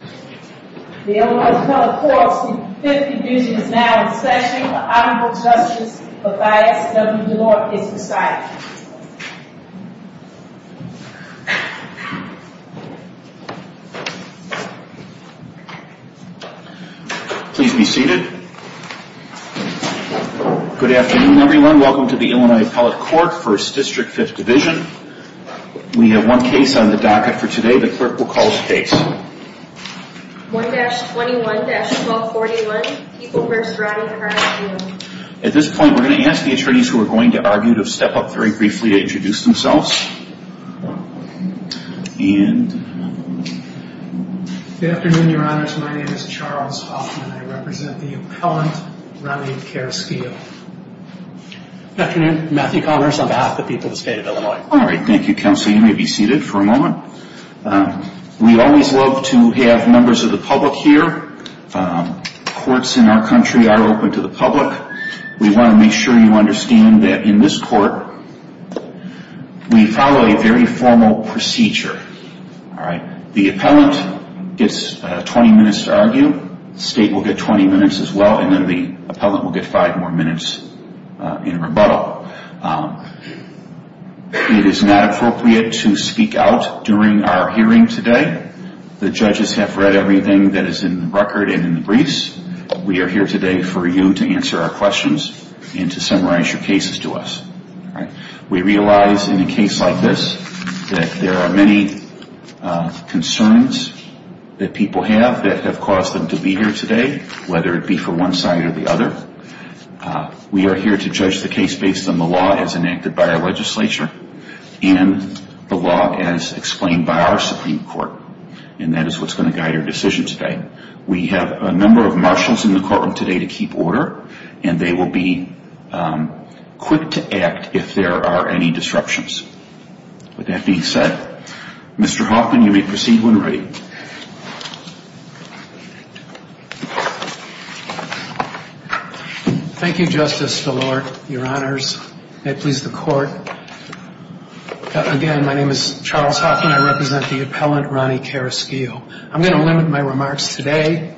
The Illinois Appellate Court's Fifth Division is now in session. The Honorable Justice Mathias W. DeLore is presiding. Please be seated. Good afternoon, everyone. Welcome to the Illinois Appellate Court, First District, Fifth Division. We have one case on the docket for today. The clerk will call the case. 1-21-1241, People v. Rodney Carrasquillo. At this point, we're going to ask the attorneys who are going to argue to step up very briefly to introduce themselves. Good afternoon, Your Honors. My name is Charles Hoffman. I represent the appellant, Rodney Carrasquillo. Good afternoon. Matthew Connors on behalf of the people of the state of Illinois. All right. Thank you, Counsel. You may be seated for a moment. We always love to have members of the public here. Courts in our country are open to the public. We want to make sure you understand that in this court, we follow a very formal procedure. The appellant gets 20 minutes to argue. The state will get 20 minutes as well. And then the appellant will get five more minutes in rebuttal. It is not appropriate to speak out during our hearing today. The judges have read everything that is in the record and in the briefs. We are here today for you to answer our questions and to summarize your cases to us. We realize in a case like this that there are many concerns that people have that have caused them to be here today, whether it be for one side or the other. We are here to judge the case based on the law as enacted by our legislature and the law as explained by our Supreme Court. And that is what is going to guide our decision today. We have a number of marshals in the courtroom today to keep order, and they will be quick to act if there are any disruptions. With that being said, Mr. Hoffman, you may proceed when ready. Thank you, Justice DeLore, Your Honors. May it please the Court. Again, my name is Charles Hoffman. I represent the appellant, Ronnie Karaskiel. I'm going to limit my remarks today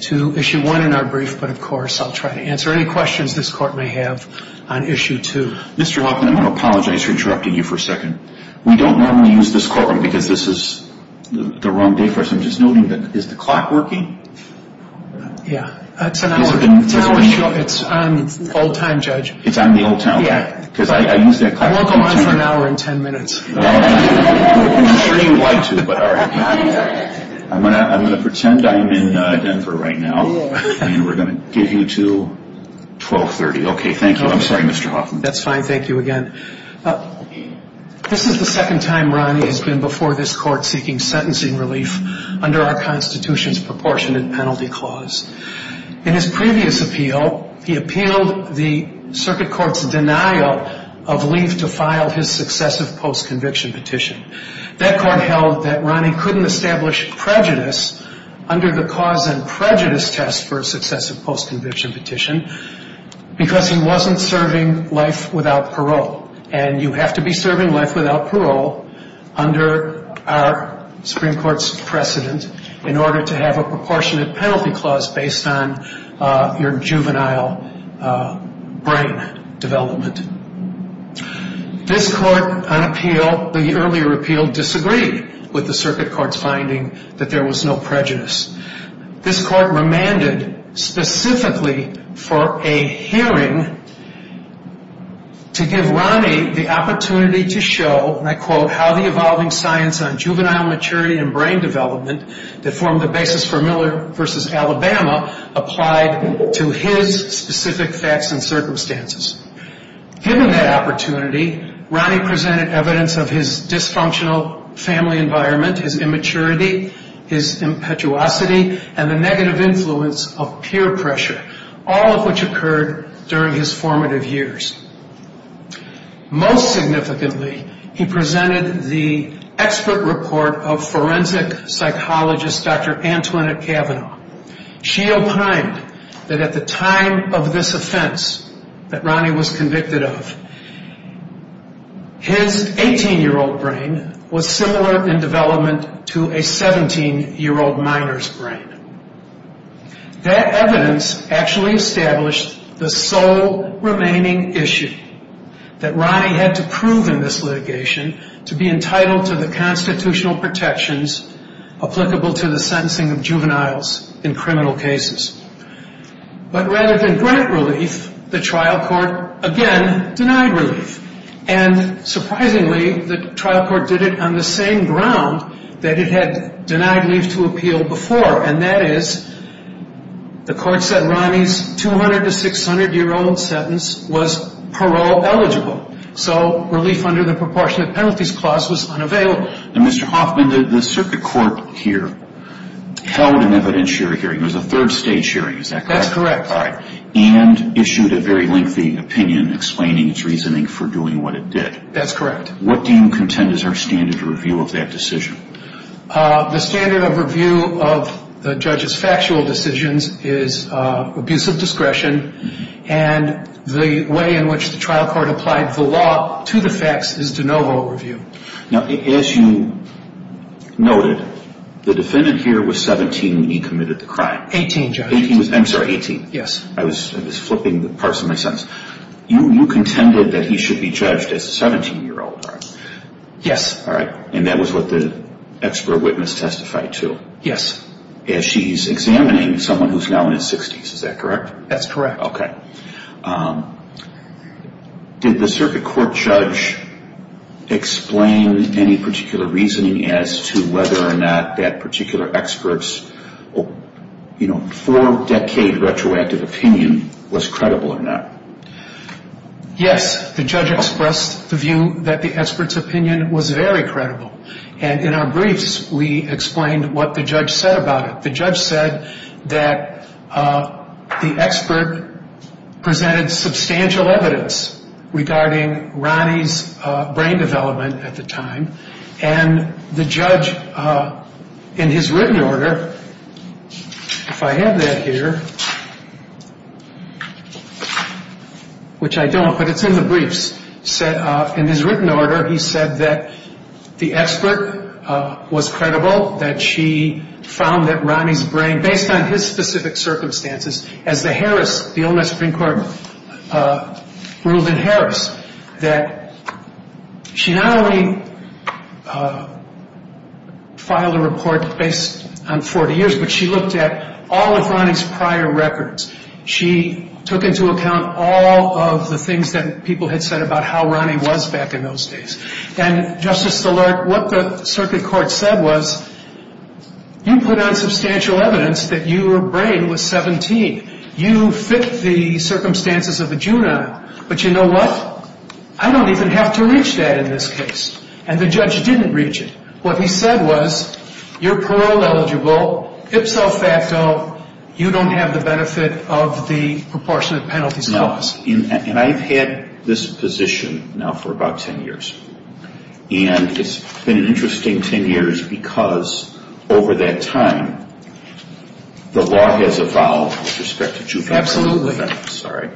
to Issue 1 in our brief, but of course I'll try to answer any questions this Court may have on Issue 2. Mr. Hoffman, I want to apologize for interrupting you for a second. We don't normally use this courtroom because this is the wrong day for us. I'm just noting that, is the clock working? Yeah, it's an hour. It's on old time, Judge. It's on the old time? Yeah. We'll go on for an hour and ten minutes. I'm sure you'd like to, but all right. I'm going to pretend I'm in Denver right now, and we're going to get you to 1230. Okay, thank you. I'm sorry, Mr. Hoffman. That's fine. Thank you again. This is the second time Ronnie has been before this Court seeking sentencing relief under our Constitution's proportionate penalty clause. In his previous appeal, he appealed the circuit court's denial of leave to file his successive post-conviction petition. That court held that Ronnie couldn't establish prejudice under the cause and prejudice test for a successive post-conviction petition because he wasn't serving life without parole. And you have to be serving life without parole under our Supreme Court's precedent in order to have a proportionate penalty clause based on your juvenile brain development. This Court on appeal, the earlier appeal, disagreed with the circuit court's finding that there was no prejudice. This Court remanded specifically for a hearing to give Ronnie the opportunity to show, and I quote, how the evolving science on juvenile maturity and brain development that formed the basis for Miller v. Alabama applied to his specific facts and circumstances. Given that opportunity, Ronnie presented evidence of his dysfunctional family environment, his immaturity, his impetuosity, and the negative influence of peer pressure, all of which occurred during his formative years. Most significantly, he presented the expert report of forensic psychologist Dr. Antoinette Kavanaugh. She opined that at the time of this offense that Ronnie was convicted of, his 18-year-old brain was similar in development to a 17-year-old minor's brain. That evidence actually established the sole remaining issue, that Ronnie had to prove in this litigation to be entitled to the constitutional protections applicable to the sentencing of juveniles in criminal cases. But rather than grant relief, the trial court again denied relief. And surprisingly, the trial court did it on the same ground that it had denied relief to appeal before, and that is the court said Ronnie's 200- to 600-year-old sentence was parole eligible. So relief under the proportionate penalties clause was unavailable. Now, Mr. Hoffman, the circuit court here held an evidentiary hearing. It was a third-stage hearing, is that correct? That's correct. All right. And issued a very lengthy opinion explaining its reasoning for doing what it did. That's correct. What do you contend is our standard review of that decision? The standard of review of the judge's factual decisions is abuse of discretion, and the way in which the trial court applied the law to the facts is de novo review. Now, as you noted, the defendant here was 17 when he committed the crime. Eighteen, Judge. I'm sorry, 18. Yes. I was flipping the parts of my sentence. You contended that he should be judged as a 17-year-old, right? Yes. All right. And that was what the expert witness testified to? Yes. As she's examining someone who's now in his 60s, is that correct? That's correct. Okay. Did the circuit court judge explain any particular reasoning as to whether or not that particular expert's four-decade retroactive opinion was credible or not? Yes. The judge expressed the view that the expert's opinion was very credible, and in our briefs we explained what the judge said about it. The judge said that the expert presented substantial evidence regarding Ronnie's brain development at the time, and the judge, in his written order, if I have that here, which I don't, but it's in the briefs, in his written order he said that the expert was credible, that she found that Ronnie's brain, based on his specific circumstances, as the Harris, the Ole Miss Supreme Court ruled in Harris, that she not only filed a report based on 40 years, but she looked at all of Ronnie's prior records. She took into account all of the things that people had said about how Ronnie was back in those days. And, Justice Szilard, what the circuit court said was, you put on substantial evidence that your brain was 17. You fit the circumstances of a juvenile. But you know what? I don't even have to reach that in this case. And the judge didn't reach it. What he said was, you're parole eligible, ipso facto, you don't have the benefit of the proportionate penalties clause. And I've had this position now for about 10 years. And it's been an interesting 10 years because, over that time, the law has evolved with respect to juvenile offense. Absolutely. Sorry.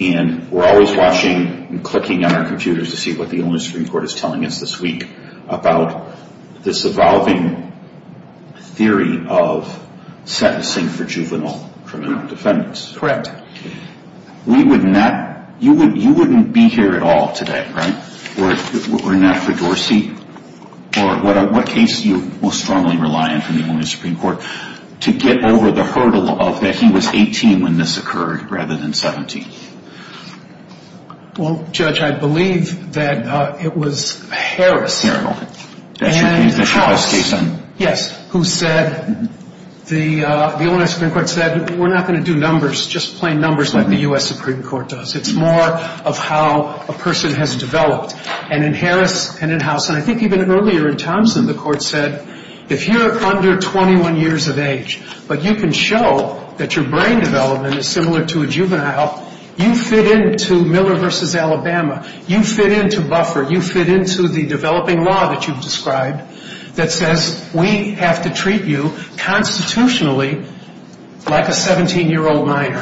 And we're always watching and clicking on our computers to see what the Ole Miss Supreme Court is telling us this week about this evolving theory of sentencing for juvenile criminal defendants. Correct. We would not, you wouldn't be here at all today, right? We're not for Dorsey? Or what case do you most strongly rely on from the Ole Miss Supreme Court to get over the hurdle of that he was 18 when this occurred rather than 17? Well, Judge, I believe that it was Harris. Harris. And Hauss. Yes. Who said, the Ole Miss Supreme Court said, we're not going to do numbers, just plain numbers like the U.S. Supreme Court does. It's more of how a person has developed. And in Harris and in Hauss, and I think even earlier in Thompson, the court said, if you're under 21 years of age but you can show that your brain development is similar to a juvenile, you fit into Miller v. Alabama. You fit into Buffer. You fit into the developing law that you've described that says we have to treat you constitutionally like a 17-year-old minor.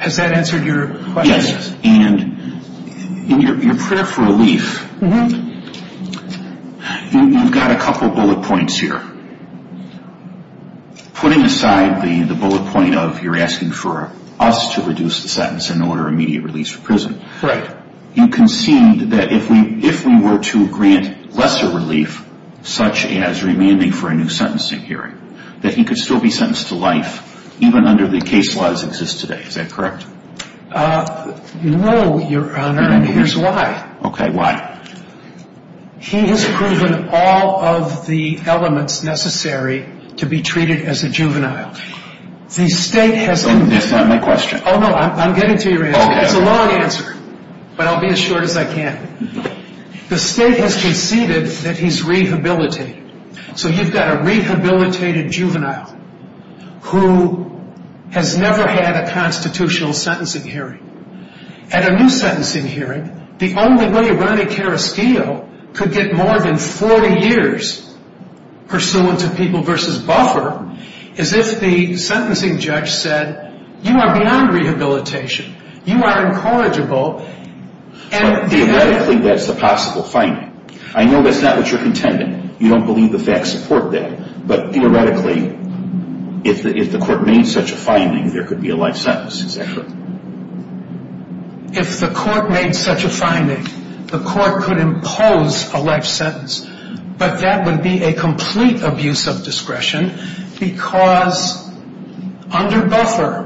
Has that answered your question? Yes. And in your prayer for relief, you've got a couple bullet points here. Putting aside the bullet point of you're asking for us to reduce the sentence in order of immediate release from prison. Right. You conceded that if we were to grant lesser relief, such as remanding for a new sentencing hearing, that he could still be sentenced to life even under the case laws that exist today. Is that correct? No, Your Honor, and here's why. Okay, why? He has proven all of the elements necessary to be treated as a juvenile. That's not my question. Oh, no, I'm getting to your answer. It's a long answer, but I'll be as short as I can. The state has conceded that he's rehabilitated. So you've got a rehabilitated juvenile who has never had a constitutional sentencing hearing. At a new sentencing hearing, the only way Ronny Caraschio could get more than 40 years pursuant to people versus buffer is if the sentencing judge said, you are beyond rehabilitation. You are incorrigible. Theoretically, that's the possible finding. I know that's not what you're contending. You don't believe the facts support that. But theoretically, if the court made such a finding, there could be a life sentence. Is that correct? If the court made such a finding, the court could impose a life sentence. But that would be a complete abuse of discretion because under buffer,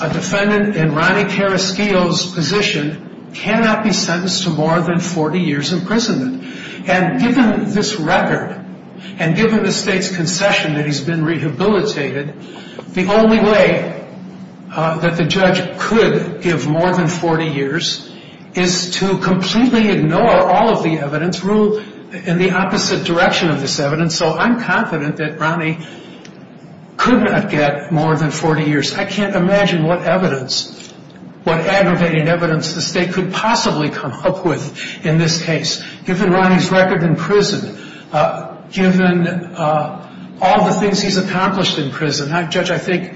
a defendant in Ronny Caraschio's position cannot be sentenced to more than 40 years imprisonment. And given this record and given the state's concession that he's been rehabilitated, the only way that the judge could give more than 40 years is to completely ignore all of the evidence, rule in the opposite direction of this evidence. So I'm confident that Ronny could not get more than 40 years. I can't imagine what evidence, what aggravating evidence the state could possibly come up with in this case. Given Ronny's record in prison, given all the things he's accomplished in prison, Judge, I think,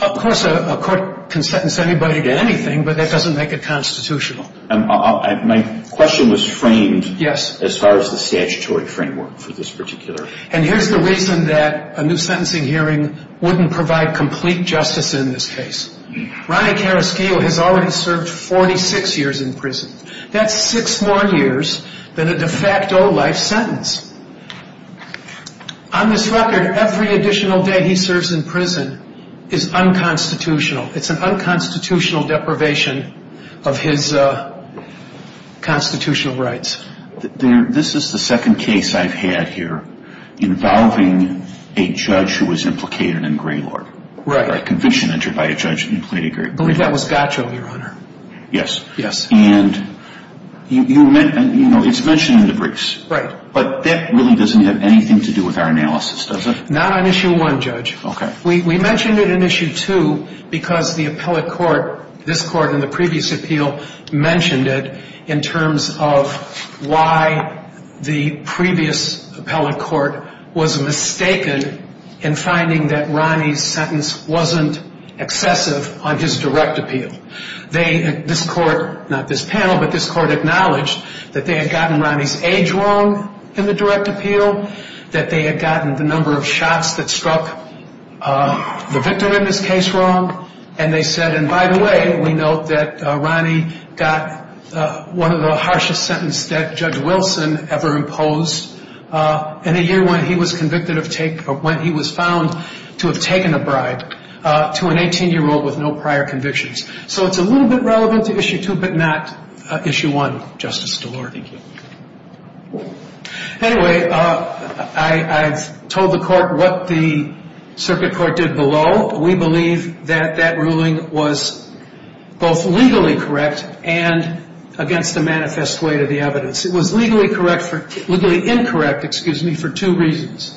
of course, a court can sentence anybody to anything, but that doesn't make it constitutional. My question was framed as far as the statutory framework for this particular. And here's the reason that a new sentencing hearing wouldn't provide complete justice in this case. Ronny Caraschio has already served 46 years in prison. That's six more years than a de facto life sentence. On this record, every additional day he serves in prison is unconstitutional. It's an unconstitutional deprivation of his constitutional rights. This is the second case I've had here involving a judge who was implicated in Greylord. Right. A conviction entered by a judge implicated in Greylord. That was Gacho, Your Honor. Yes. Yes. And, you know, it's mentioned in the briefs. Right. But that really doesn't have anything to do with our analysis, does it? Not on Issue 1, Judge. Okay. We mentioned it in Issue 2 because the appellate court, this court in the previous appeal, mentioned it in terms of why the previous appellate court was mistaken in finding that not this panel, but this court acknowledged that they had gotten Ronny's age wrong in the direct appeal, that they had gotten the number of shots that struck the victim in this case wrong, and they said, and by the way, we note that Ronny got one of the harshest sentences that Judge Wilson ever imposed in a year when he was found to have taken a bribe to an 18-year-old with no prior convictions. So it's a little bit relevant to Issue 2, but not Issue 1, Justice DeLorde. Thank you. Anyway, I've told the court what the circuit court did below. We believe that that ruling was both legally correct and against the manifest way to the evidence. It was legally incorrect for two reasons.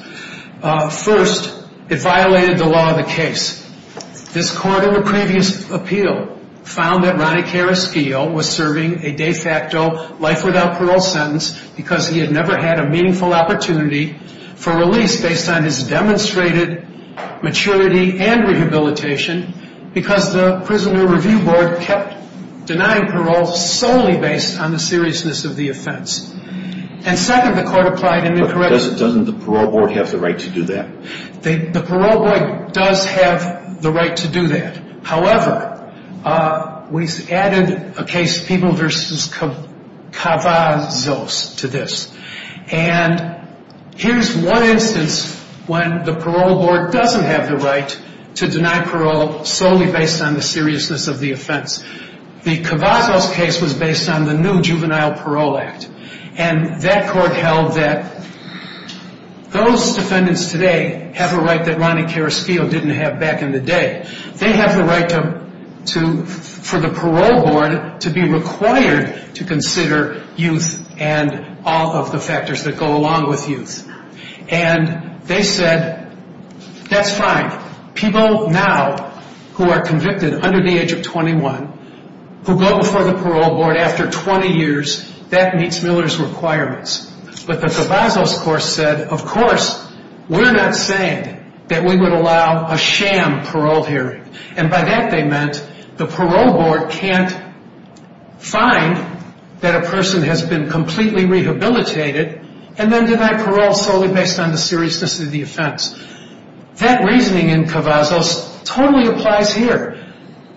First, it violated the law of the case. This court in the previous appeal found that Ronny Carrasquillo was serving a de facto life without parole sentence because he had never had a meaningful opportunity for release based on his demonstrated maturity and rehabilitation because the Prisoner Review Board kept denying parole solely based on the seriousness of the offense. And second, the court applied an incorrect rule. Doesn't the parole board have the right to do that? The parole board does have the right to do that. However, we added a case, People v. Cavazos, to this. And here's one instance when the parole board doesn't have the right to deny parole solely based on the seriousness of the offense. The Cavazos case was based on the new Juvenile Parole Act. And that court held that those defendants today have a right that Ronny Carrasquillo didn't have back in the day. They have the right for the parole board to be required to consider youth and all of the factors that go along with youth. And they said, that's fine. People now who are convicted under the age of 21 who go before the parole board after 20 years, that meets Miller's requirements. But the Cavazos court said, of course, we're not saying that we would allow a sham parole hearing. And by that they meant the parole board can't find that a person has been completely rehabilitated and then deny parole solely based on the seriousness of the offense. That reasoning in Cavazos totally applies here.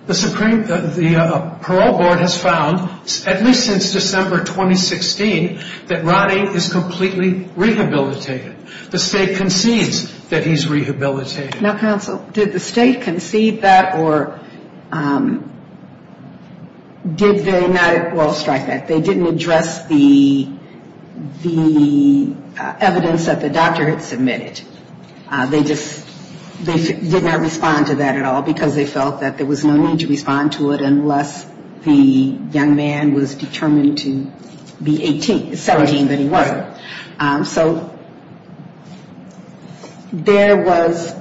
The parole board has found, at least since December 2016, that Ronny is completely rehabilitated. The state concedes that he's rehabilitated. Now, counsel, did the state concede that or did they not at all strike that? They didn't address the evidence that the doctor had submitted. They just did not respond to that at all because they felt that there was no need to respond to it unless the young man was determined to be 17, but he wasn't. So there was,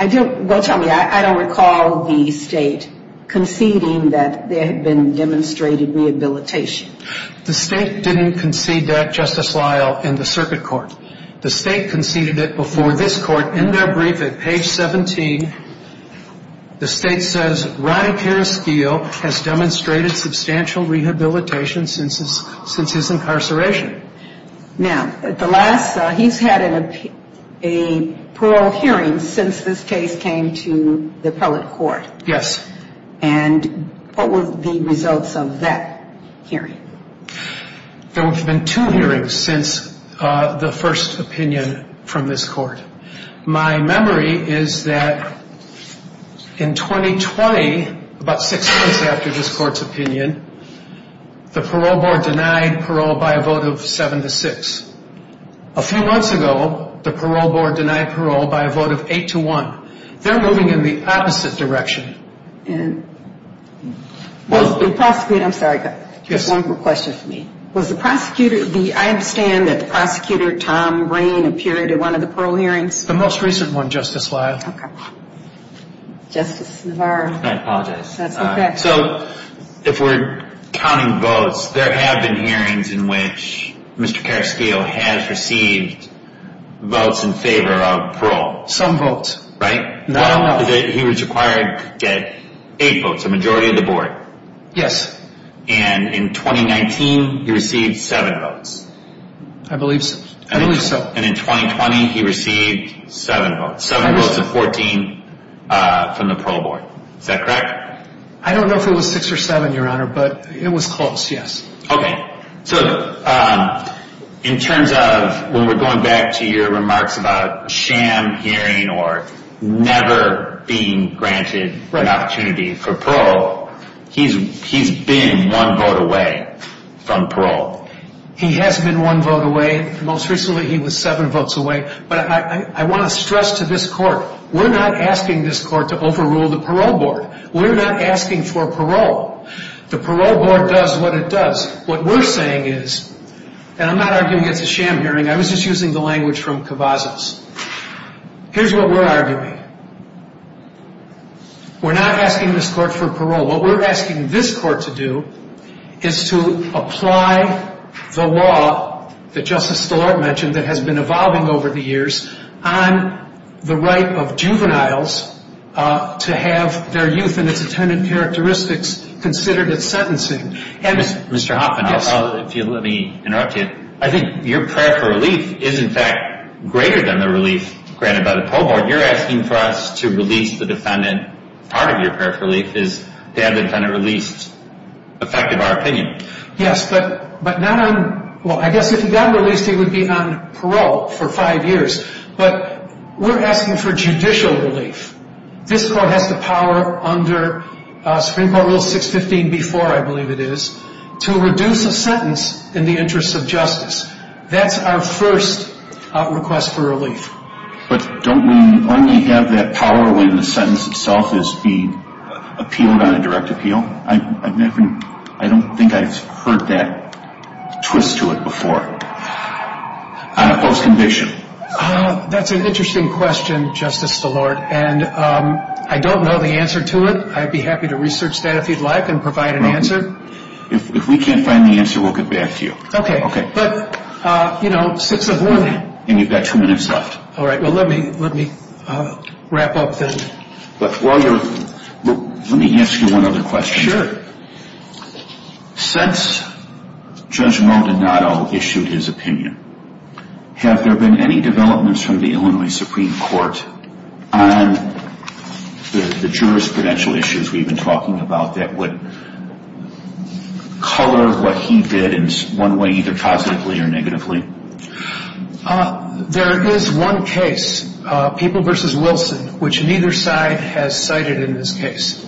well tell me, I don't recall the state conceding that there had been demonstrated rehabilitation. The state didn't concede that, Justice Lyle, in the circuit court. The state conceded it before this court in their brief at page 17. The state says Ronny Periskeel has demonstrated substantial rehabilitation since his incarceration. Now, at the last, he's had a parole hearing since this case came to the appellate court. Yes. And what were the results of that hearing? There have been two hearings since the first opinion from this court. My memory is that in 2020, about six months after this court's opinion, the parole board denied parole by a vote of 7 to 6. A few months ago, the parole board denied parole by a vote of 8 to 1. They're moving in the opposite direction. And was the prosecutor, I'm sorry, just one more question for me. Was the prosecutor, I understand that the prosecutor, Tom Rain, appeared at one of the parole hearings? The most recent one, Justice Lyle. Okay. Justice Navarro. I apologize. That's okay. So if we're counting votes, there have been hearings in which Mr. Periskeel has received votes in favor of parole. Some votes. Right? Not all of them. He was required to get eight votes, a majority of the board. Yes. And in 2019, he received seven votes. I believe so. I believe so. And in 2020, he received seven votes. Seven votes of 14 from the parole board. Is that correct? I don't know if it was six or seven, Your Honor, but it was close, yes. Okay. So in terms of when we're going back to your remarks about sham hearing or never being granted an opportunity for parole, he's been one vote away from parole. He has been one vote away. Most recently, he was seven votes away. But I want to stress to this court, we're not asking this court to overrule the parole board. We're not asking for parole. The parole board does what it does. What we're saying is, and I'm not arguing it's a sham hearing. I was just using the language from Cavazos. Here's what we're arguing. We're not asking this court for parole. What we're asking this court to do is to apply the law that Justice Stillart mentioned that has been evolving over the years on the right of juveniles to have their youth and its attendant characteristics considered at sentencing. Mr. Hoffman, let me interrupt you. I think your prayer for relief is, in fact, greater than the relief granted by the parole board. You're asking for us to release the defendant. Part of your prayer for relief is to have the defendant released, effective our opinion. Yes, but not on, well, I guess if he got released, he would be on parole for five years. But we're asking for judicial relief. This court has the power under Supreme Court Rule 615B4, I believe it is, to reduce a sentence in the interest of justice. That's our first request for relief. But don't we only have that power when the sentence itself is being appealed on a direct appeal? I don't think I've heard that twist to it before on a post-conviction. That's an interesting question, Justice Stillart, and I don't know the answer to it. I'd be happy to research that if you'd like and provide an answer. If we can't find the answer, we'll get back to you. Okay, but, you know, 6 of 1. And you've got two minutes left. All right, well, let me wrap up then. Let me ask you one other question. Sure. Since Judge Maldonado issued his opinion, have there been any developments from the Illinois Supreme Court on the jurisprudential issues we've been talking about that would color what he did in one way, either positively or negatively? There is one case, People v. Wilson, which neither side has cited in this case.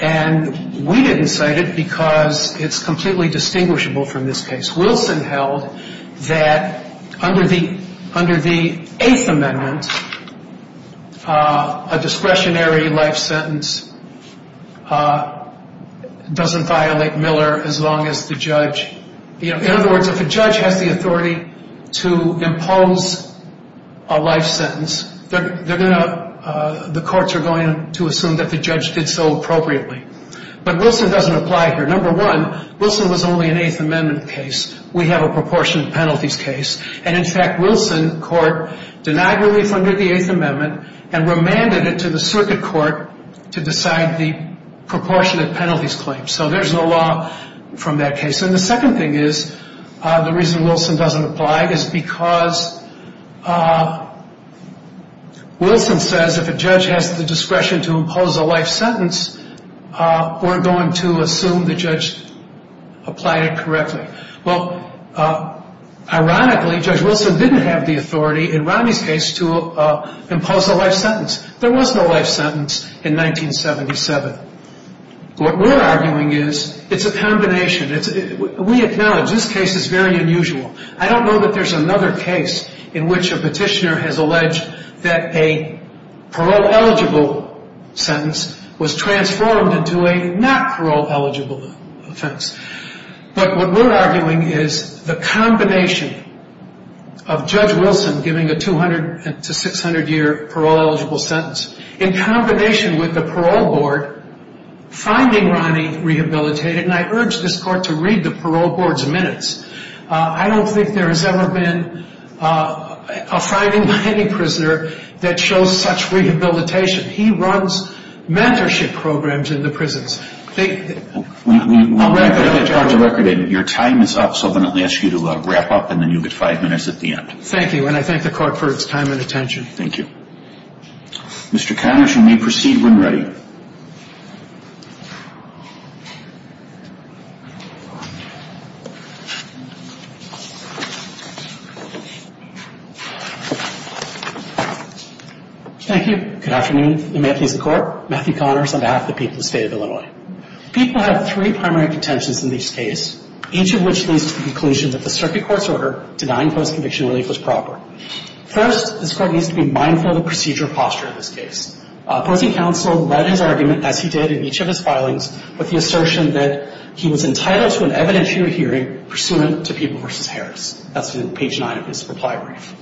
And we didn't cite it because it's completely distinguishable from this case. Wilson held that under the Eighth Amendment, a discretionary life sentence doesn't violate Miller as long as the judge, you know, in other words, if a judge has the authority to impose a life sentence, the courts are going to assume that the judge did so appropriately. But Wilson doesn't apply here. Number one, Wilson was only an Eighth Amendment case. We have a proportionate penalties case. And, in fact, Wilson court denied relief under the Eighth Amendment and remanded it to the circuit court to decide the proportionate penalties claim. So there's no law from that case. And the second thing is, the reason Wilson doesn't apply is because Wilson says if a judge has the discretion to impose a life sentence, we're going to assume the judge applied it correctly. Well, ironically, Judge Wilson didn't have the authority in Romney's case to impose a life sentence. There was no life sentence in 1977. What we're arguing is it's a combination. We acknowledge this case is very unusual. I don't know that there's another case in which a petitioner has alleged that a parole-eligible sentence was transformed into a not parole-eligible offense. But what we're arguing is the combination of Judge Wilson giving a 200 to 600-year parole-eligible sentence in combination with the parole board finding Romney rehabilitated. And I urge this court to read the parole board's minutes. I don't think there has ever been a finding by any prisoner that shows such rehabilitation. He runs mentorship programs in the prisons. I'll wrap it up. Your time is up, so I'm going to ask you to wrap up, and then you'll get five minutes at the end. Thank you, and I thank the court for its time and attention. Thank you. Mr. Connors, you may proceed when ready. Thank you. Thank you. Good afternoon. May it please the Court. Matthew Connors on behalf of the people of the State of Illinois. People have three primary contentions in this case, each of which leads to the conclusion that the circuit court's order denying post-conviction relief was proper. First, this court needs to be mindful of the procedure of posture in this case. Posting counsel led his argument, as he did in each of his filings, with the assertion that he was entitled to an evidentiary hearing pursuant to People v. Harris. That's in page 9 of his reply brief.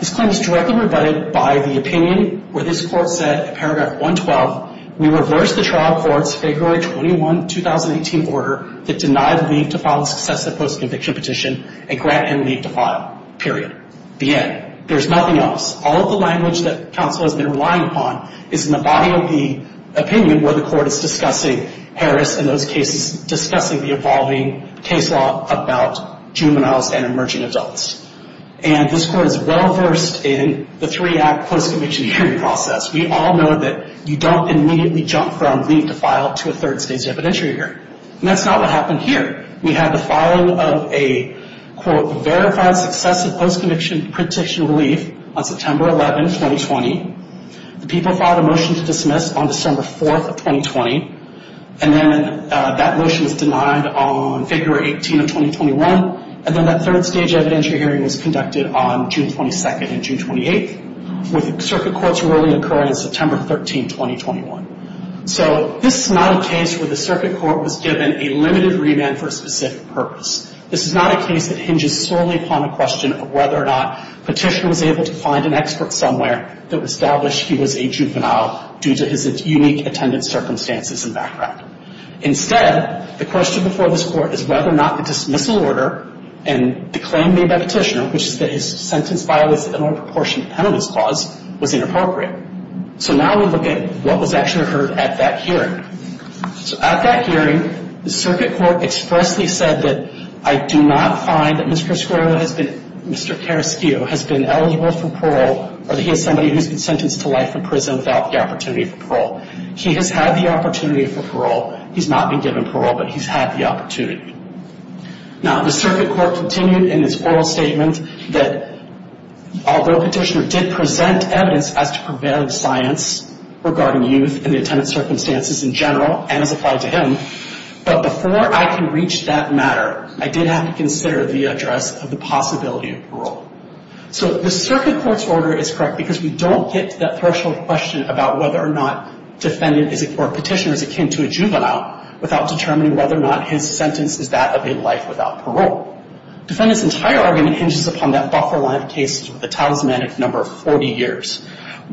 This claim is directly rebutted by the opinion where this court said, in paragraph 112, we reverse the trial court's February 21, 2018, order that denied leave to file a successive post-conviction petition and grant him leave to file. Period. The end. There's nothing else. All of the language that counsel has been relying upon is in the body of the opinion where the court is discussing Harris and those cases discussing the evolving case law about juveniles and emerging adults. And this court is well-versed in the three-act post-conviction hearing process. We all know that you don't immediately jump from leave to file to a third stage evidentiary hearing. And that's not what happened here. We had the filing of a, quote, verified successive post-conviction petition of leave on September 11, 2020. The people filed a motion to dismiss on December 4th of 2020. And then that motion was denied on February 18 of 2021. And then that third stage evidentiary hearing was conducted on June 22nd and June 28th, with the circuit court's ruling occurring on September 13, 2021. So this is not a case where the circuit court was given a limited remand for a specific purpose. This is not a case that hinges solely upon a question of whether or not Petitioner was able to find an expert somewhere that would establish he was a juvenile due to his unique attendance circumstances and background. Instead, the question before this court is whether or not the dismissal order and the claim made by Petitioner, which is that his sentence violates the Illinois Proportionate Penalty Clause, was inappropriate. So now we look at what was actually heard at that hearing. So at that hearing, the circuit court expressly said that, I do not find that Mr. Carrasquillo has been eligible for parole or that he is somebody who has been sentenced to life in prison without the opportunity for parole. He has had the opportunity for parole. He's not been given parole, but he's had the opportunity. Now, the circuit court continued in its oral statement that, although Petitioner did present evidence as to prevailing science regarding youth and the attendance circumstances in general and as applied to him, but before I can reach that matter, I did have to consider the address of the possibility of parole. So the circuit court's order is correct because we don't get to that threshold question about whether or not Petitioner is akin to a juvenile without determining whether or not his sentence is that of a life without parole. Defendant's entire argument hinges upon that buffer line of cases with a talismanic number of 40 years.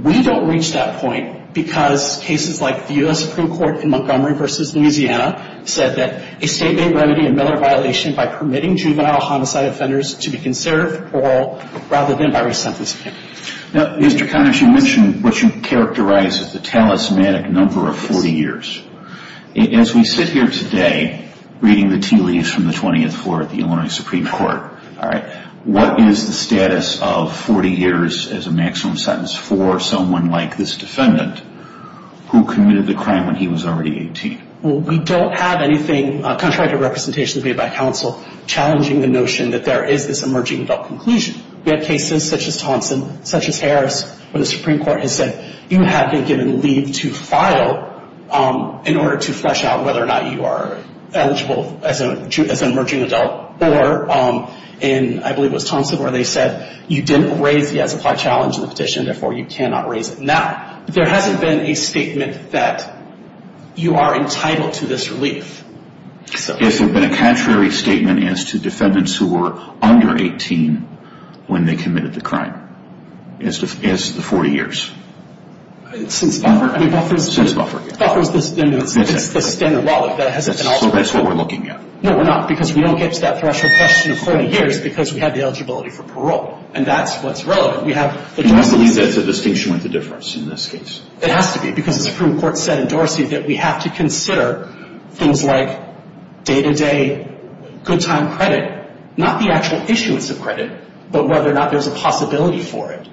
We don't reach that point because cases like the U.S. Supreme Court in Montgomery v. Louisiana said that a state-made remedy in Miller violation by permitting juvenile homicide offenders to be conserved for parole rather than by resentencing. Now, Mr. Carras, you mentioned what you characterize as the talismanic number of 40 years. As we sit here today reading the tea leaves from the 20th floor at the Illinois Supreme Court, what is the status of 40 years as a maximum sentence for someone like this defendant who committed the crime when he was already 18? Well, we don't have anything, contrary to representations made by counsel, challenging the notion that there is this emerging adult conclusion. We have cases such as Thompson, such as Harris, where the Supreme Court has said, you have been given leave to file in order to flesh out whether or not you are eligible as an emerging adult. Or in, I believe it was Thompson, where they said you didn't raise the as-applied challenge in the petition, therefore you cannot raise it now. There hasn't been a statement that you are entitled to this relief. Is there been a contrary statement as to defendants who were under 18 when they committed the crime? As to the 40 years. Since Buffer? Since Buffer. Buffer is the standard law that hasn't been altered. So that's what we're looking at. No, we're not, because we don't get to that threshold question of 40 years because we have the eligibility for parole. And that's what's relevant. Do you believe that's a distinction with the difference in this case? It has to be, because the Supreme Court said in Dorsey that we have to consider things like day-to-day, good-time credit, not the actual issuance of credit, but whether or not there's a possibility for it.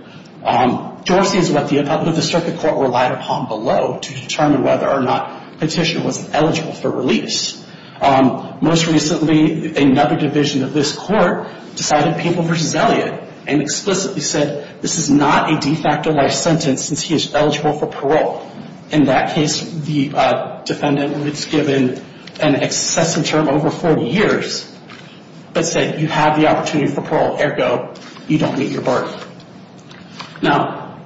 Dorsey is what the circuit court relied upon below to determine whether or not the petitioner was eligible for release. Most recently, another division of this court decided Papal v. Elliot and explicitly said this is not a de facto life sentence since he is eligible for parole. In that case, the defendant was given an excessive term over 40 years, but said you have the opportunity for parole, ergo you don't meet your burden. Now,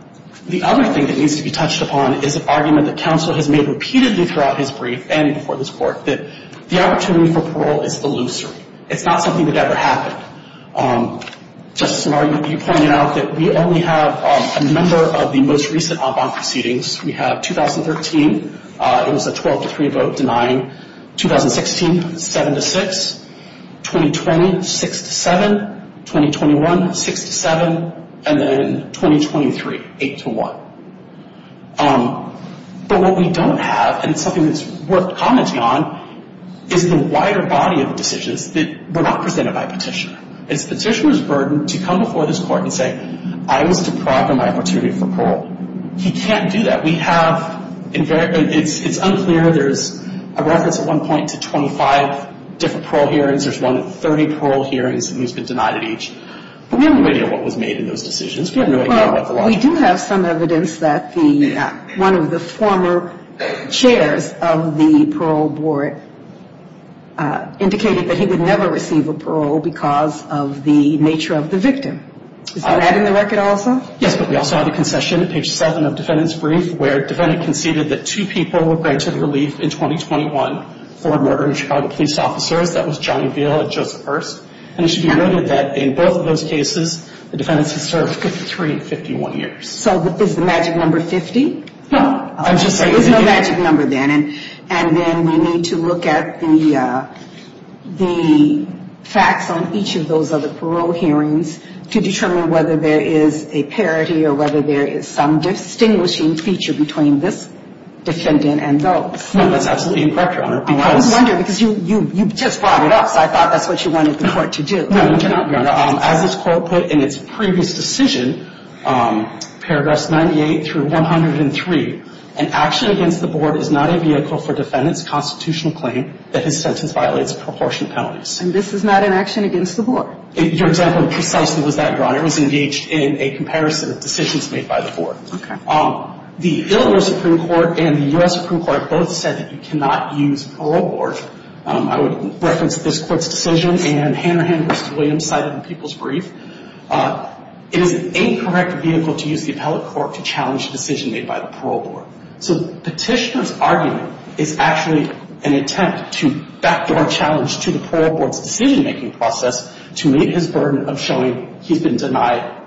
the other thing that needs to be touched upon is an argument that counsel has made repeatedly throughout his brief and before this court that the opportunity for parole is illusory. It's not something that ever happened. Justice O'Mara, you pointed out that we only have a number of the most recent en banc proceedings. We have 2013. It was a 12-3 vote denying. 2016, 7-6. 2020, 6-7. 2021, 6-7. And then 2023, 8-1. But what we don't have, and it's something that's worth commenting on, is the wider body of decisions that were not presented by a petitioner. It's the petitioner's burden to come before this court and say, I was deprived of my opportunity for parole. He can't do that. We have, it's unclear. There's a reference at one point to 25 different parole hearings. There's one at 30 parole hearings, and he's been denied at each. But we have no idea what was made in those decisions. We do have some evidence that one of the former chairs of the parole board indicated that he would never receive a parole because of the nature of the victim. Is that in the record also? Yes, but we also have a concession, page 7 of defendant's brief, where defendant conceded that two people were granted relief in 2021 for murdered Chicago police officers. That was Johnny Veal and Joseph Hurst. And it should be noted that in both of those cases, the defendants have served three 51 years. So is the magic number 50? No. There's no magic number then. And then we need to look at the facts on each of those other parole hearings to determine whether there is a parity or whether there is some distinguishing feature between this defendant and those. No, that's absolutely incorrect, Your Honor. I was wondering because you just brought it up, so I thought that's what you wanted the court to do. No, Your Honor. As this court put in its previous decision, paragraphs 98 through 103, an action against the board is not a vehicle for defendant's constitutional claim that his sentence violates proportionate penalties. And this is not an action against the board? Your example precisely was that, Your Honor. It was engaged in a comparison of decisions made by the board. Okay. The Illinois Supreme Court and the U.S. Supreme Court both said that you cannot use parole board. I would reference this court's decision, and Hanrahan v. Williams cited in People's Brief. It is an incorrect vehicle to use the appellate court to challenge a decision made by the parole board. So the petitioner's argument is actually an attempt to backdoor a challenge to the parole board's decision-making process to meet his burden of showing he's been denied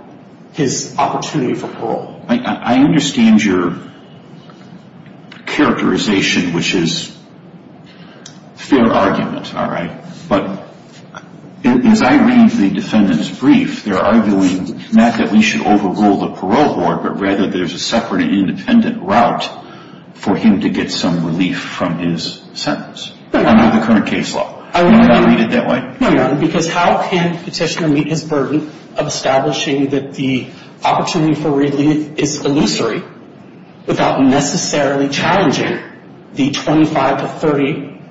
his opportunity for parole. I understand your characterization, which is fair argument, all right, but as I read the defendant's brief, they're arguing not that we should overrule the parole board, but rather there's a separate independent route for him to get some relief from his sentence under the current case law. Would you read it that way? No, Your Honor, because how can the petitioner meet his burden of establishing that the opportunity for relief is illusory without necessarily challenging the 25 to 30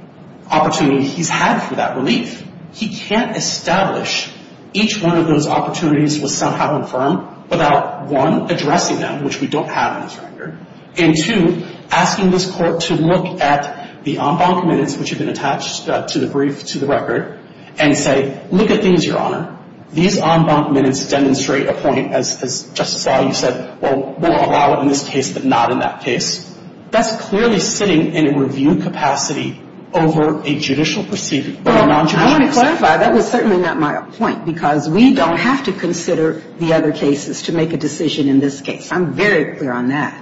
opportunities he's had for that relief? He can't establish each one of those opportunities was somehow infirm without, one, addressing them, which we don't have in this record, and, two, asking this court to look at the en banc minutes, which have been attached to the brief, to the record, and say, look at these, Your Honor. These en banc minutes demonstrate a point, as Justice Alito said, well, we'll allow it in this case, but not in that case. That's clearly sitting in a review capacity over a judicial proceeding, but a non-judicial proceeding. Well, I want to clarify, that was certainly not my point, because we don't have to consider the other cases to make a decision in this case. I'm very clear on that.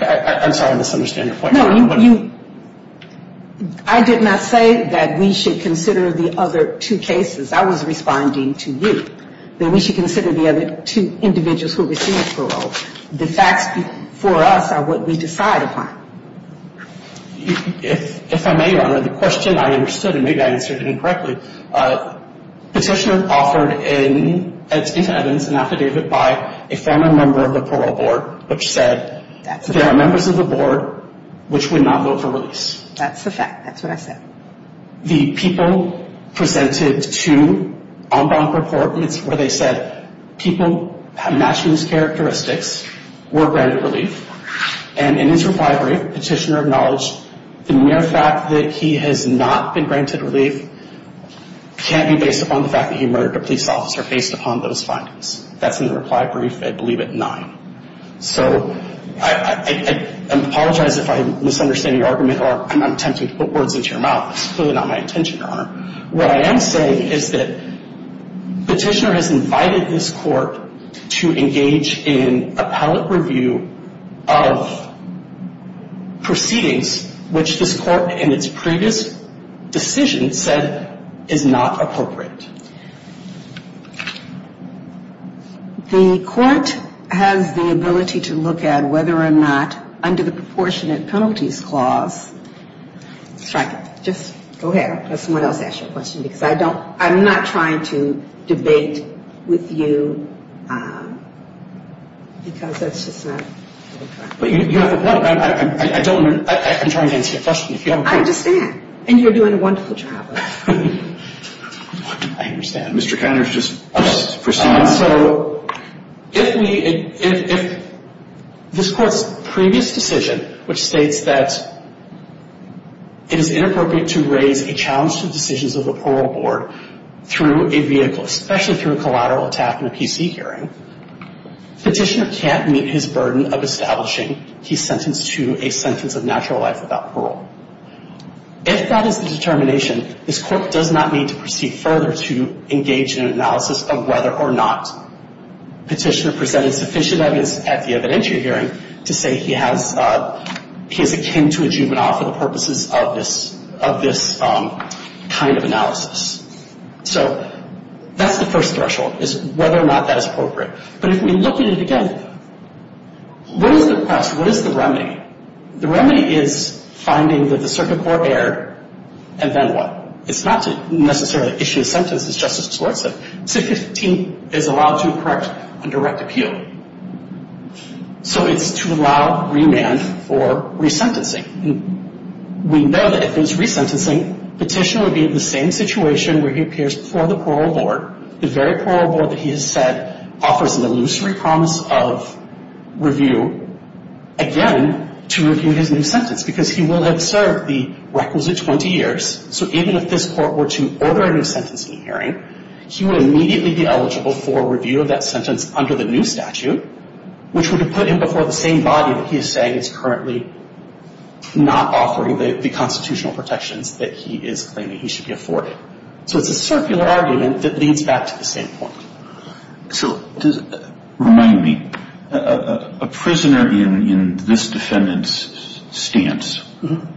I'm sorry, I misunderstand your point. No, you, I did not say that we should consider the other two cases. I was responding to you, that we should consider the other two individuals who received parole. The facts for us are what we decide upon. If I may, Your Honor, the question I understood, and maybe I answered it incorrectly, petitioner offered in Evans an affidavit by a former member of the parole board, which said, there are members of the board which would not vote for release. That's the fact. That's what I said. The people presented to en banc report, and it's where they said people have matched these characteristics, were granted relief, and in his reply brief, petitioner acknowledged the mere fact that he has not been granted relief can't be based upon the fact that he murdered a police officer based upon those findings. That's in the reply brief, I believe, at 9. So I apologize if I misunderstand your argument, or I'm attempting to put words into your mouth. That's clearly not my intention, Your Honor. What I am saying is that petitioner has invited this court to engage in appellate review of proceedings which this court in its previous decision said is not appropriate. The court has the ability to look at whether or not under the proportionate penalties clause, strike it. Just go ahead. Let someone else ask you a question, because I don't, I'm not trying to debate with you, because that's just not. I don't, I'm trying to answer your question. I understand. And you're doing a wonderful job. I understand. Mr. Connors, just proceed. So if we, if this court's previous decision, which states that it is inappropriate to raise a challenge to the decisions of the parole board through a vehicle, especially through a collateral attack in a PC hearing, petitioner can't meet his burden of establishing he's sentenced to a sentence of natural life without parole. If that is the determination, this court does not need to proceed further to engage in an analysis of whether or not petitioner presented sufficient evidence at the evidentiary hearing to say he has, he is akin to a juvenile for the purposes of this kind of analysis. So that's the first threshold, is whether or not that is appropriate. But if we look at it again, what is the remedy? The remedy is finding that the circuit court erred, and then what? It's not to necessarily issue a sentence, as Justice Schwartz said. Section 15 is allowed to correct on direct appeal. So it's to allow remand for resentencing. We know that if there's resentencing, petitioner would be in the same situation where he appears before the parole board, the very parole board that he has said offers an illusory promise of review. Again, to review his new sentence, because he will have served the requisite 20 years. So even if this court were to order a new sentencing hearing, he would immediately be eligible for review of that sentence under the new statute, which would have put him before the same body that he is saying is currently not offering the constitutional protections that he is claiming he should be afforded. So it's a circular argument that leads back to the same point. So remind me, a prisoner in this defendant's stance,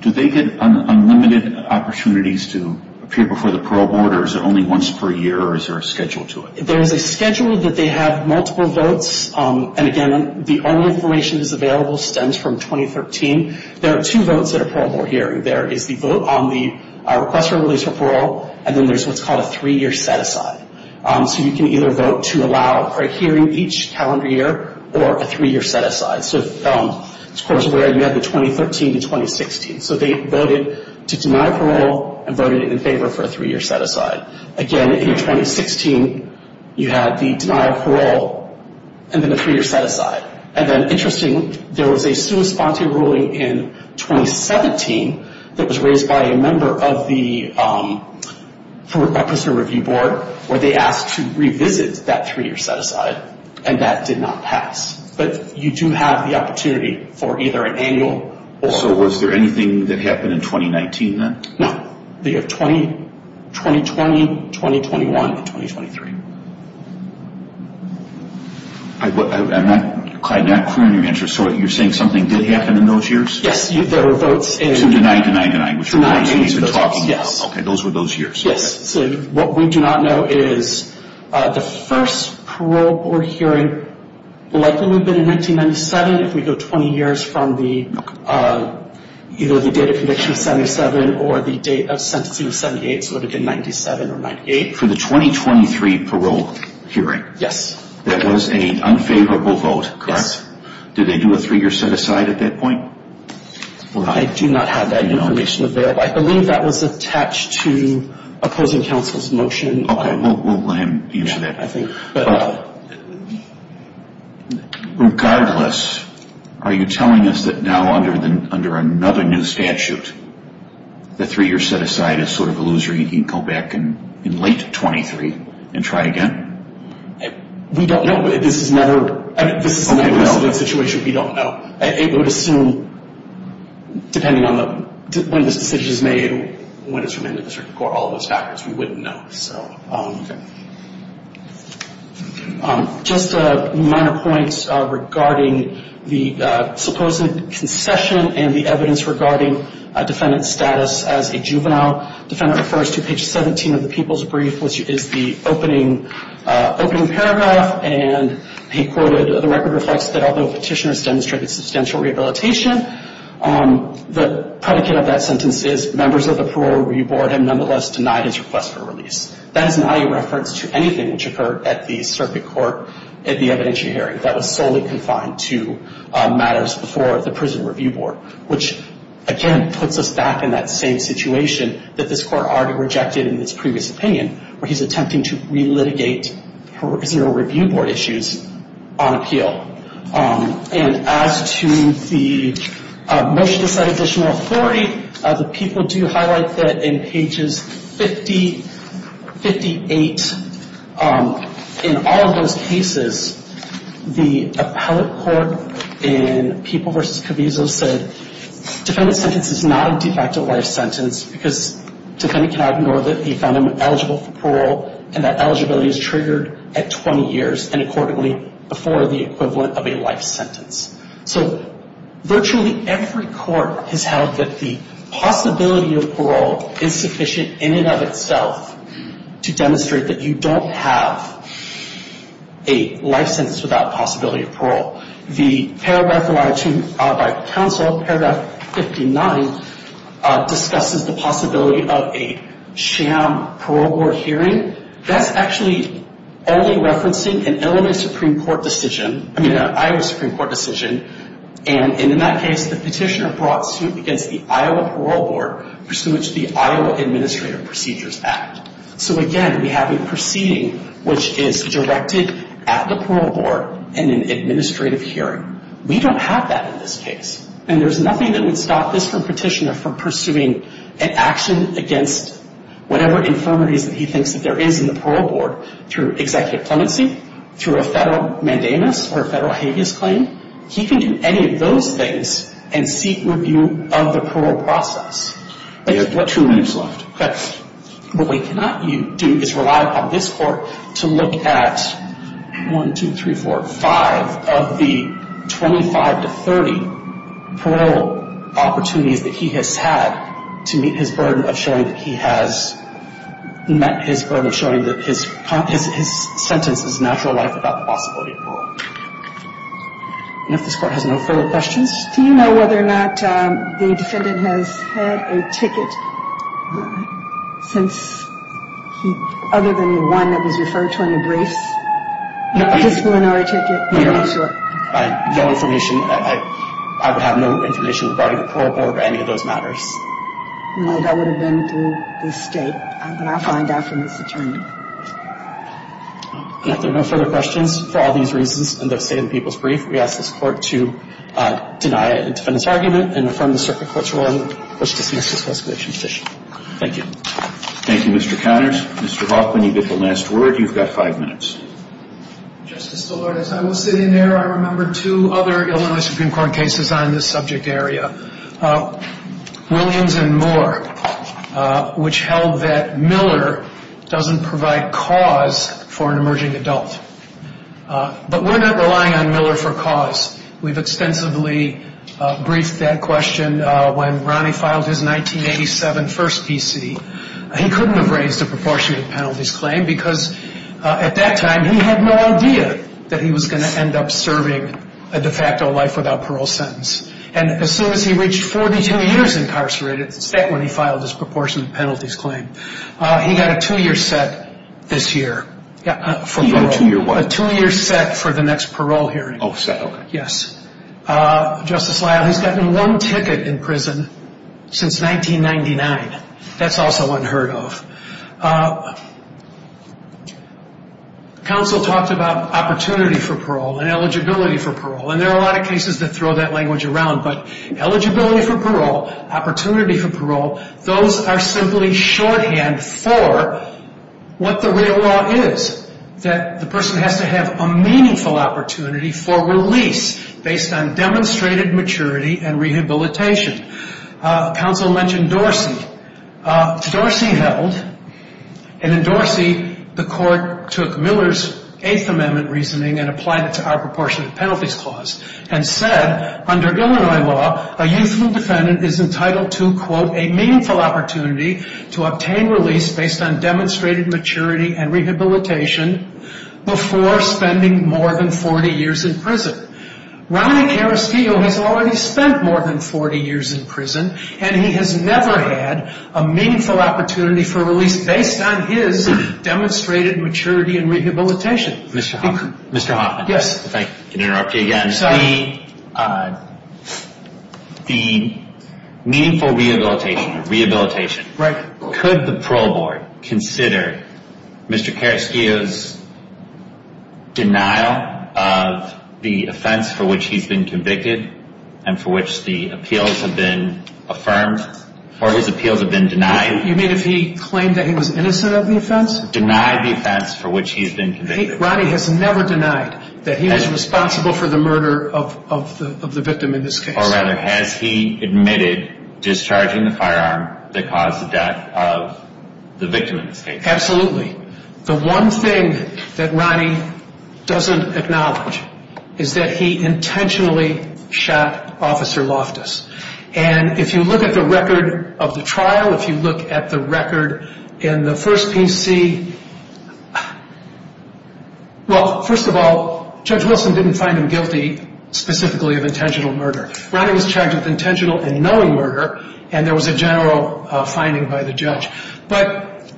do they get unlimited opportunities to appear before the parole board, or is it only once per year, or is there a schedule to it? There is a schedule that they have multiple votes. And again, the only information that's available stems from 2013. There are two votes at a parole board hearing. There is the vote on the request for release for parole, and then there's what's called a three-year set-aside. So you can either vote to allow a hearing each calendar year or a three-year set-aside. So this court is aware you have the 2013 to 2016. So they voted to deny parole and voted in favor for a three-year set-aside. Again, in 2016, you had the denial of parole and then a three-year set-aside. And then, interestingly, there was a sua sponte ruling in 2017 that was raised by a member of the prisoner review board, where they asked to revisit that three-year set-aside, and that did not pass. But you do have the opportunity for either an annual or— So was there anything that happened in 2019 then? No. They have 2020, 2021, and 2023. I'm not clear on your answer. So you're saying something did happen in those years? Yes. There were votes in— To deny, deny, deny, which are the ones you've been talking about. Yes. Okay. Those were those years. Yes. So what we do not know is the first parole board hearing likely would have been in 1997, if we go 20 years from either the date of conviction of 77 or the date of sentencing of 78. So it would have been 97 or 98. For the 2023 parole hearing? Yes. That was an unfavorable vote, correct? Yes. Did they do a three-year set-aside at that point? I do not have that information available. I believe that was attached to opposing counsel's motion. Okay. We'll let him answer that. Yeah, I think. Regardless, are you telling us that now under another new statute, the three-year set-aside is sort of a loser and you can go back in late 2023 and try again? We don't know. This is another— This is another situation we don't know. It would assume, depending on when this decision is made, when it's remanded to the circuit court, all of those factors, we wouldn't know. Okay. Just minor points regarding the supposed concession and the evidence regarding a defendant's status as a juvenile. Defendant refers to page 17 of the People's Brief, which is the opening paragraph, and he quoted, the record reflects that although petitioners demonstrated substantial rehabilitation, the predicate of that sentence is members of the Parole Review Board have nonetheless denied his request for release. That is not a reference to anything which occurred at the circuit court at the evidentiary hearing that was solely confined to matters before the Prison Review Board, which, again, puts us back in that same situation that this Court already rejected in its previous opinion, where he's attempting to relitigate Parole Review Board issues on appeal. And as to the motion to cite additional authority, the people do highlight that in pages 50, 58, in all of those cases, the appellate court in People v. Caviezo said, defendant's sentence is not a de facto life sentence because defendant cannot ignore that he found him eligible for parole and that eligibility is triggered at 20 years and accordingly before the equivalent of a life sentence. So virtually every court has held that the possibility of parole is sufficient in and of itself to demonstrate that you don't have a life sentence without possibility of parole. The paragraph allotted to me by counsel, paragraph 59, discusses the possibility of a sham parole board hearing. That's actually only referencing an Illinois Supreme Court decision, I mean an Iowa Supreme Court decision, and in that case the petitioner brought suit against the Iowa Parole Board pursuant to the Iowa Administrative Procedures Act. So, again, we have a proceeding which is directed at the parole board in an administrative hearing. We don't have that in this case, and there's nothing that would stop this court petitioner from pursuing an action against whatever infirmities that he thinks that there is in the parole board through executive clemency, through a federal mandamus, or a federal habeas claim. He can do any of those things and seek review of the parole process. We have two minutes left. What we cannot do is rely upon this court to look at 1, 2, 3, 4, 5 of the 25 to 30 parole opportunities that he has had to meet his burden of showing that he has met his burden of showing that his sentence is a natural life without the possibility of parole. And if this court has no further questions. Do you know whether or not the defendant has had a ticket since other than the one that was referred to in the briefs? Just one hour ticket? No information. I would have no information regarding the parole board or any of those matters. No, that would have been through the state. But I'll find out from this attorney. If there are no further questions, for all these reasons, in the state of the people's brief, we ask this court to deny a defendant's argument and affirm the circuit court's ruling. Thank you. Thank you, Mr. Connors. Mr. Hoffman, you get the last word. You've got five minutes. Justice DeLordis, I will sit in there. I remember two other Illinois Supreme Court cases on this subject area, Williams and Moore, which held that Miller doesn't provide cause for an emerging adult. But we're not relying on Miller for cause. We've extensively briefed that question when Ronnie filed his 1987 first PC. He couldn't have raised a proportionate penalties claim because, at that time, he had no idea that he was going to end up serving a de facto life without parole sentence. And as soon as he reached 42 years incarcerated, that's when he filed his proportionate penalties claim, he got a two-year set this year for parole. He got a two-year what? A two-year set for the next parole hearing. Oh, set, okay. Yes. Justice Lyle, he's gotten one ticket in prison since 1999. That's also unheard of. Counsel talked about opportunity for parole and eligibility for parole, and there are a lot of cases that throw that language around. But eligibility for parole, opportunity for parole, those are simply shorthand for what the real law is, that the person has to have a meaningful opportunity for release based on demonstrated maturity and rehabilitation. Counsel mentioned Dorsey. Dorsey held, and in Dorsey, the court took Miller's Eighth Amendment reasoning and applied it to our proportionate penalties clause and said, under Illinois law, a youthful defendant is entitled to, quote, a meaningful opportunity to obtain release based on demonstrated maturity and rehabilitation before spending more than 40 years in prison. Ronnie Karestio has already spent more than 40 years in prison, and he has never had a meaningful opportunity for release based on his demonstrated maturity and rehabilitation. Mr. Hoffman. Yes. If I can interrupt you again. Sorry. Ronnie, the meaningful rehabilitation, could the parole board consider Mr. Karestio's denial of the offense for which he's been convicted and for which the appeals have been affirmed or his appeals have been denied? You mean if he claimed that he was innocent of the offense? Denied the offense for which he's been convicted. Ronnie has never denied that he was responsible for the murder of the victim in this case. Or rather, has he admitted discharging the firearm that caused the death of the victim in this case? Absolutely. The one thing that Ronnie doesn't acknowledge is that he intentionally shot Officer Loftus. And if you look at the record of the trial, if you look at the record in the first PC, well, first of all, Judge Wilson didn't find him guilty specifically of intentional murder. Ronnie was charged with intentional and knowing murder, and there was a general finding by the judge. But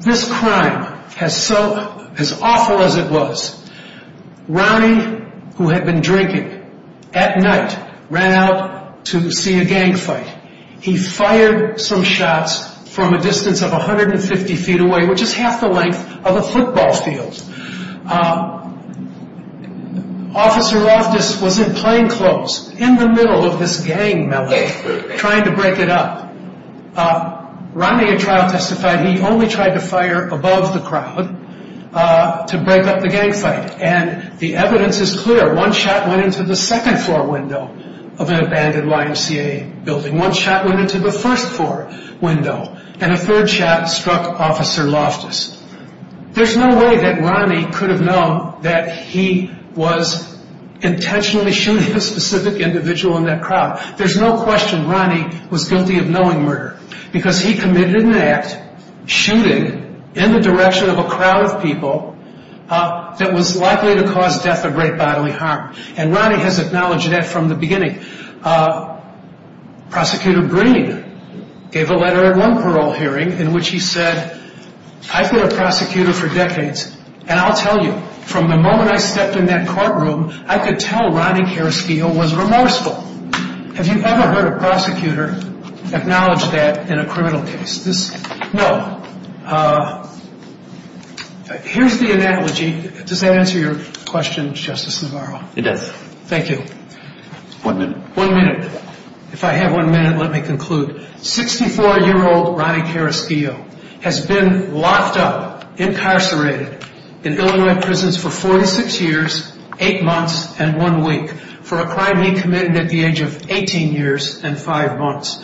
this crime has so, as awful as it was, Ronnie, who had been drinking at night, ran out to see a gang fight. He fired some shots from a distance of 150 feet away, which is half the length of a football field. Officer Loftus was in plain clothes, in the middle of this gang melee, trying to break it up. Ronnie, in trial, testified he only tried to fire above the crowd to break up the gang fight. And the evidence is clear. One shot went into the second floor window of an abandoned YMCA building. One shot went into the first floor window. And a third shot struck Officer Loftus. There's no way that Ronnie could have known that he was intentionally shooting a specific individual in that crowd. There's no question Ronnie was guilty of knowing murder, because he committed an act, shooting, in the direction of a crowd of people, that was likely to cause death or great bodily harm. And Ronnie has acknowledged that from the beginning. Prosecutor Green gave a letter at one parole hearing in which he said, I've been a prosecutor for decades, and I'll tell you, from the moment I stepped in that courtroom, I could tell Ronnie Carrasquillo was remorseful. Have you ever heard a prosecutor acknowledge that in a criminal case? No. Here's the analogy. Does that answer your question, Justice Navarro? It does. Thank you. One minute. One minute. If I have one minute, let me conclude. 64-year-old Ronnie Carrasquillo has been locked up, incarcerated, in Illinois prisons for 46 years, eight months, and one week for a crime he committed at the age of 18 years and five months.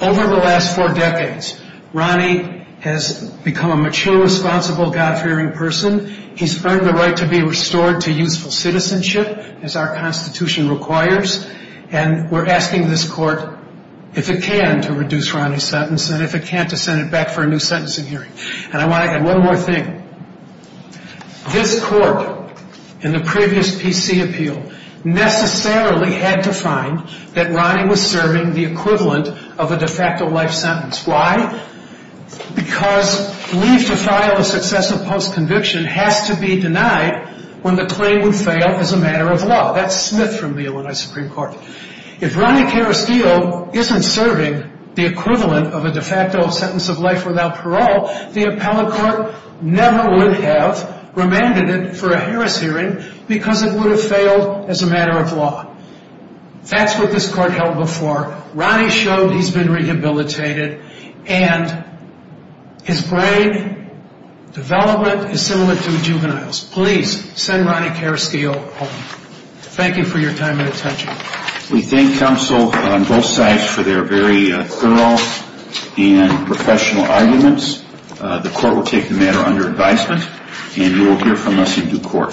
Over the last four decades, Ronnie has become a mature, responsible, God-fearing person. He's earned the right to be restored to useful citizenship, as our Constitution requires. And we're asking this Court, if it can, to reduce Ronnie's sentence, and if it can't, to send it back for a new sentencing hearing. And I want to add one more thing. This Court, in the previous PC appeal, necessarily had to find that Ronnie was serving the equivalent of a de facto life sentence. Why? Because leave to file a successive post-conviction has to be denied when the claim would fail as a matter of law. That's Smith from the Illinois Supreme Court. If Ronnie Carrasquillo isn't serving the equivalent of a de facto sentence of life without parole, the appellate court never would have remanded it for a Harris hearing because it would have failed as a matter of law. That's what this Court held before. Ronnie showed he's been rehabilitated, and his brain development is similar to a juvenile's. Please, send Ronnie Carrasquillo home. Thank you for your time and attention. We thank counsel on both sides for their very thorough and professional arguments. The Court will take the matter under advisement, and you will hear from us in due course.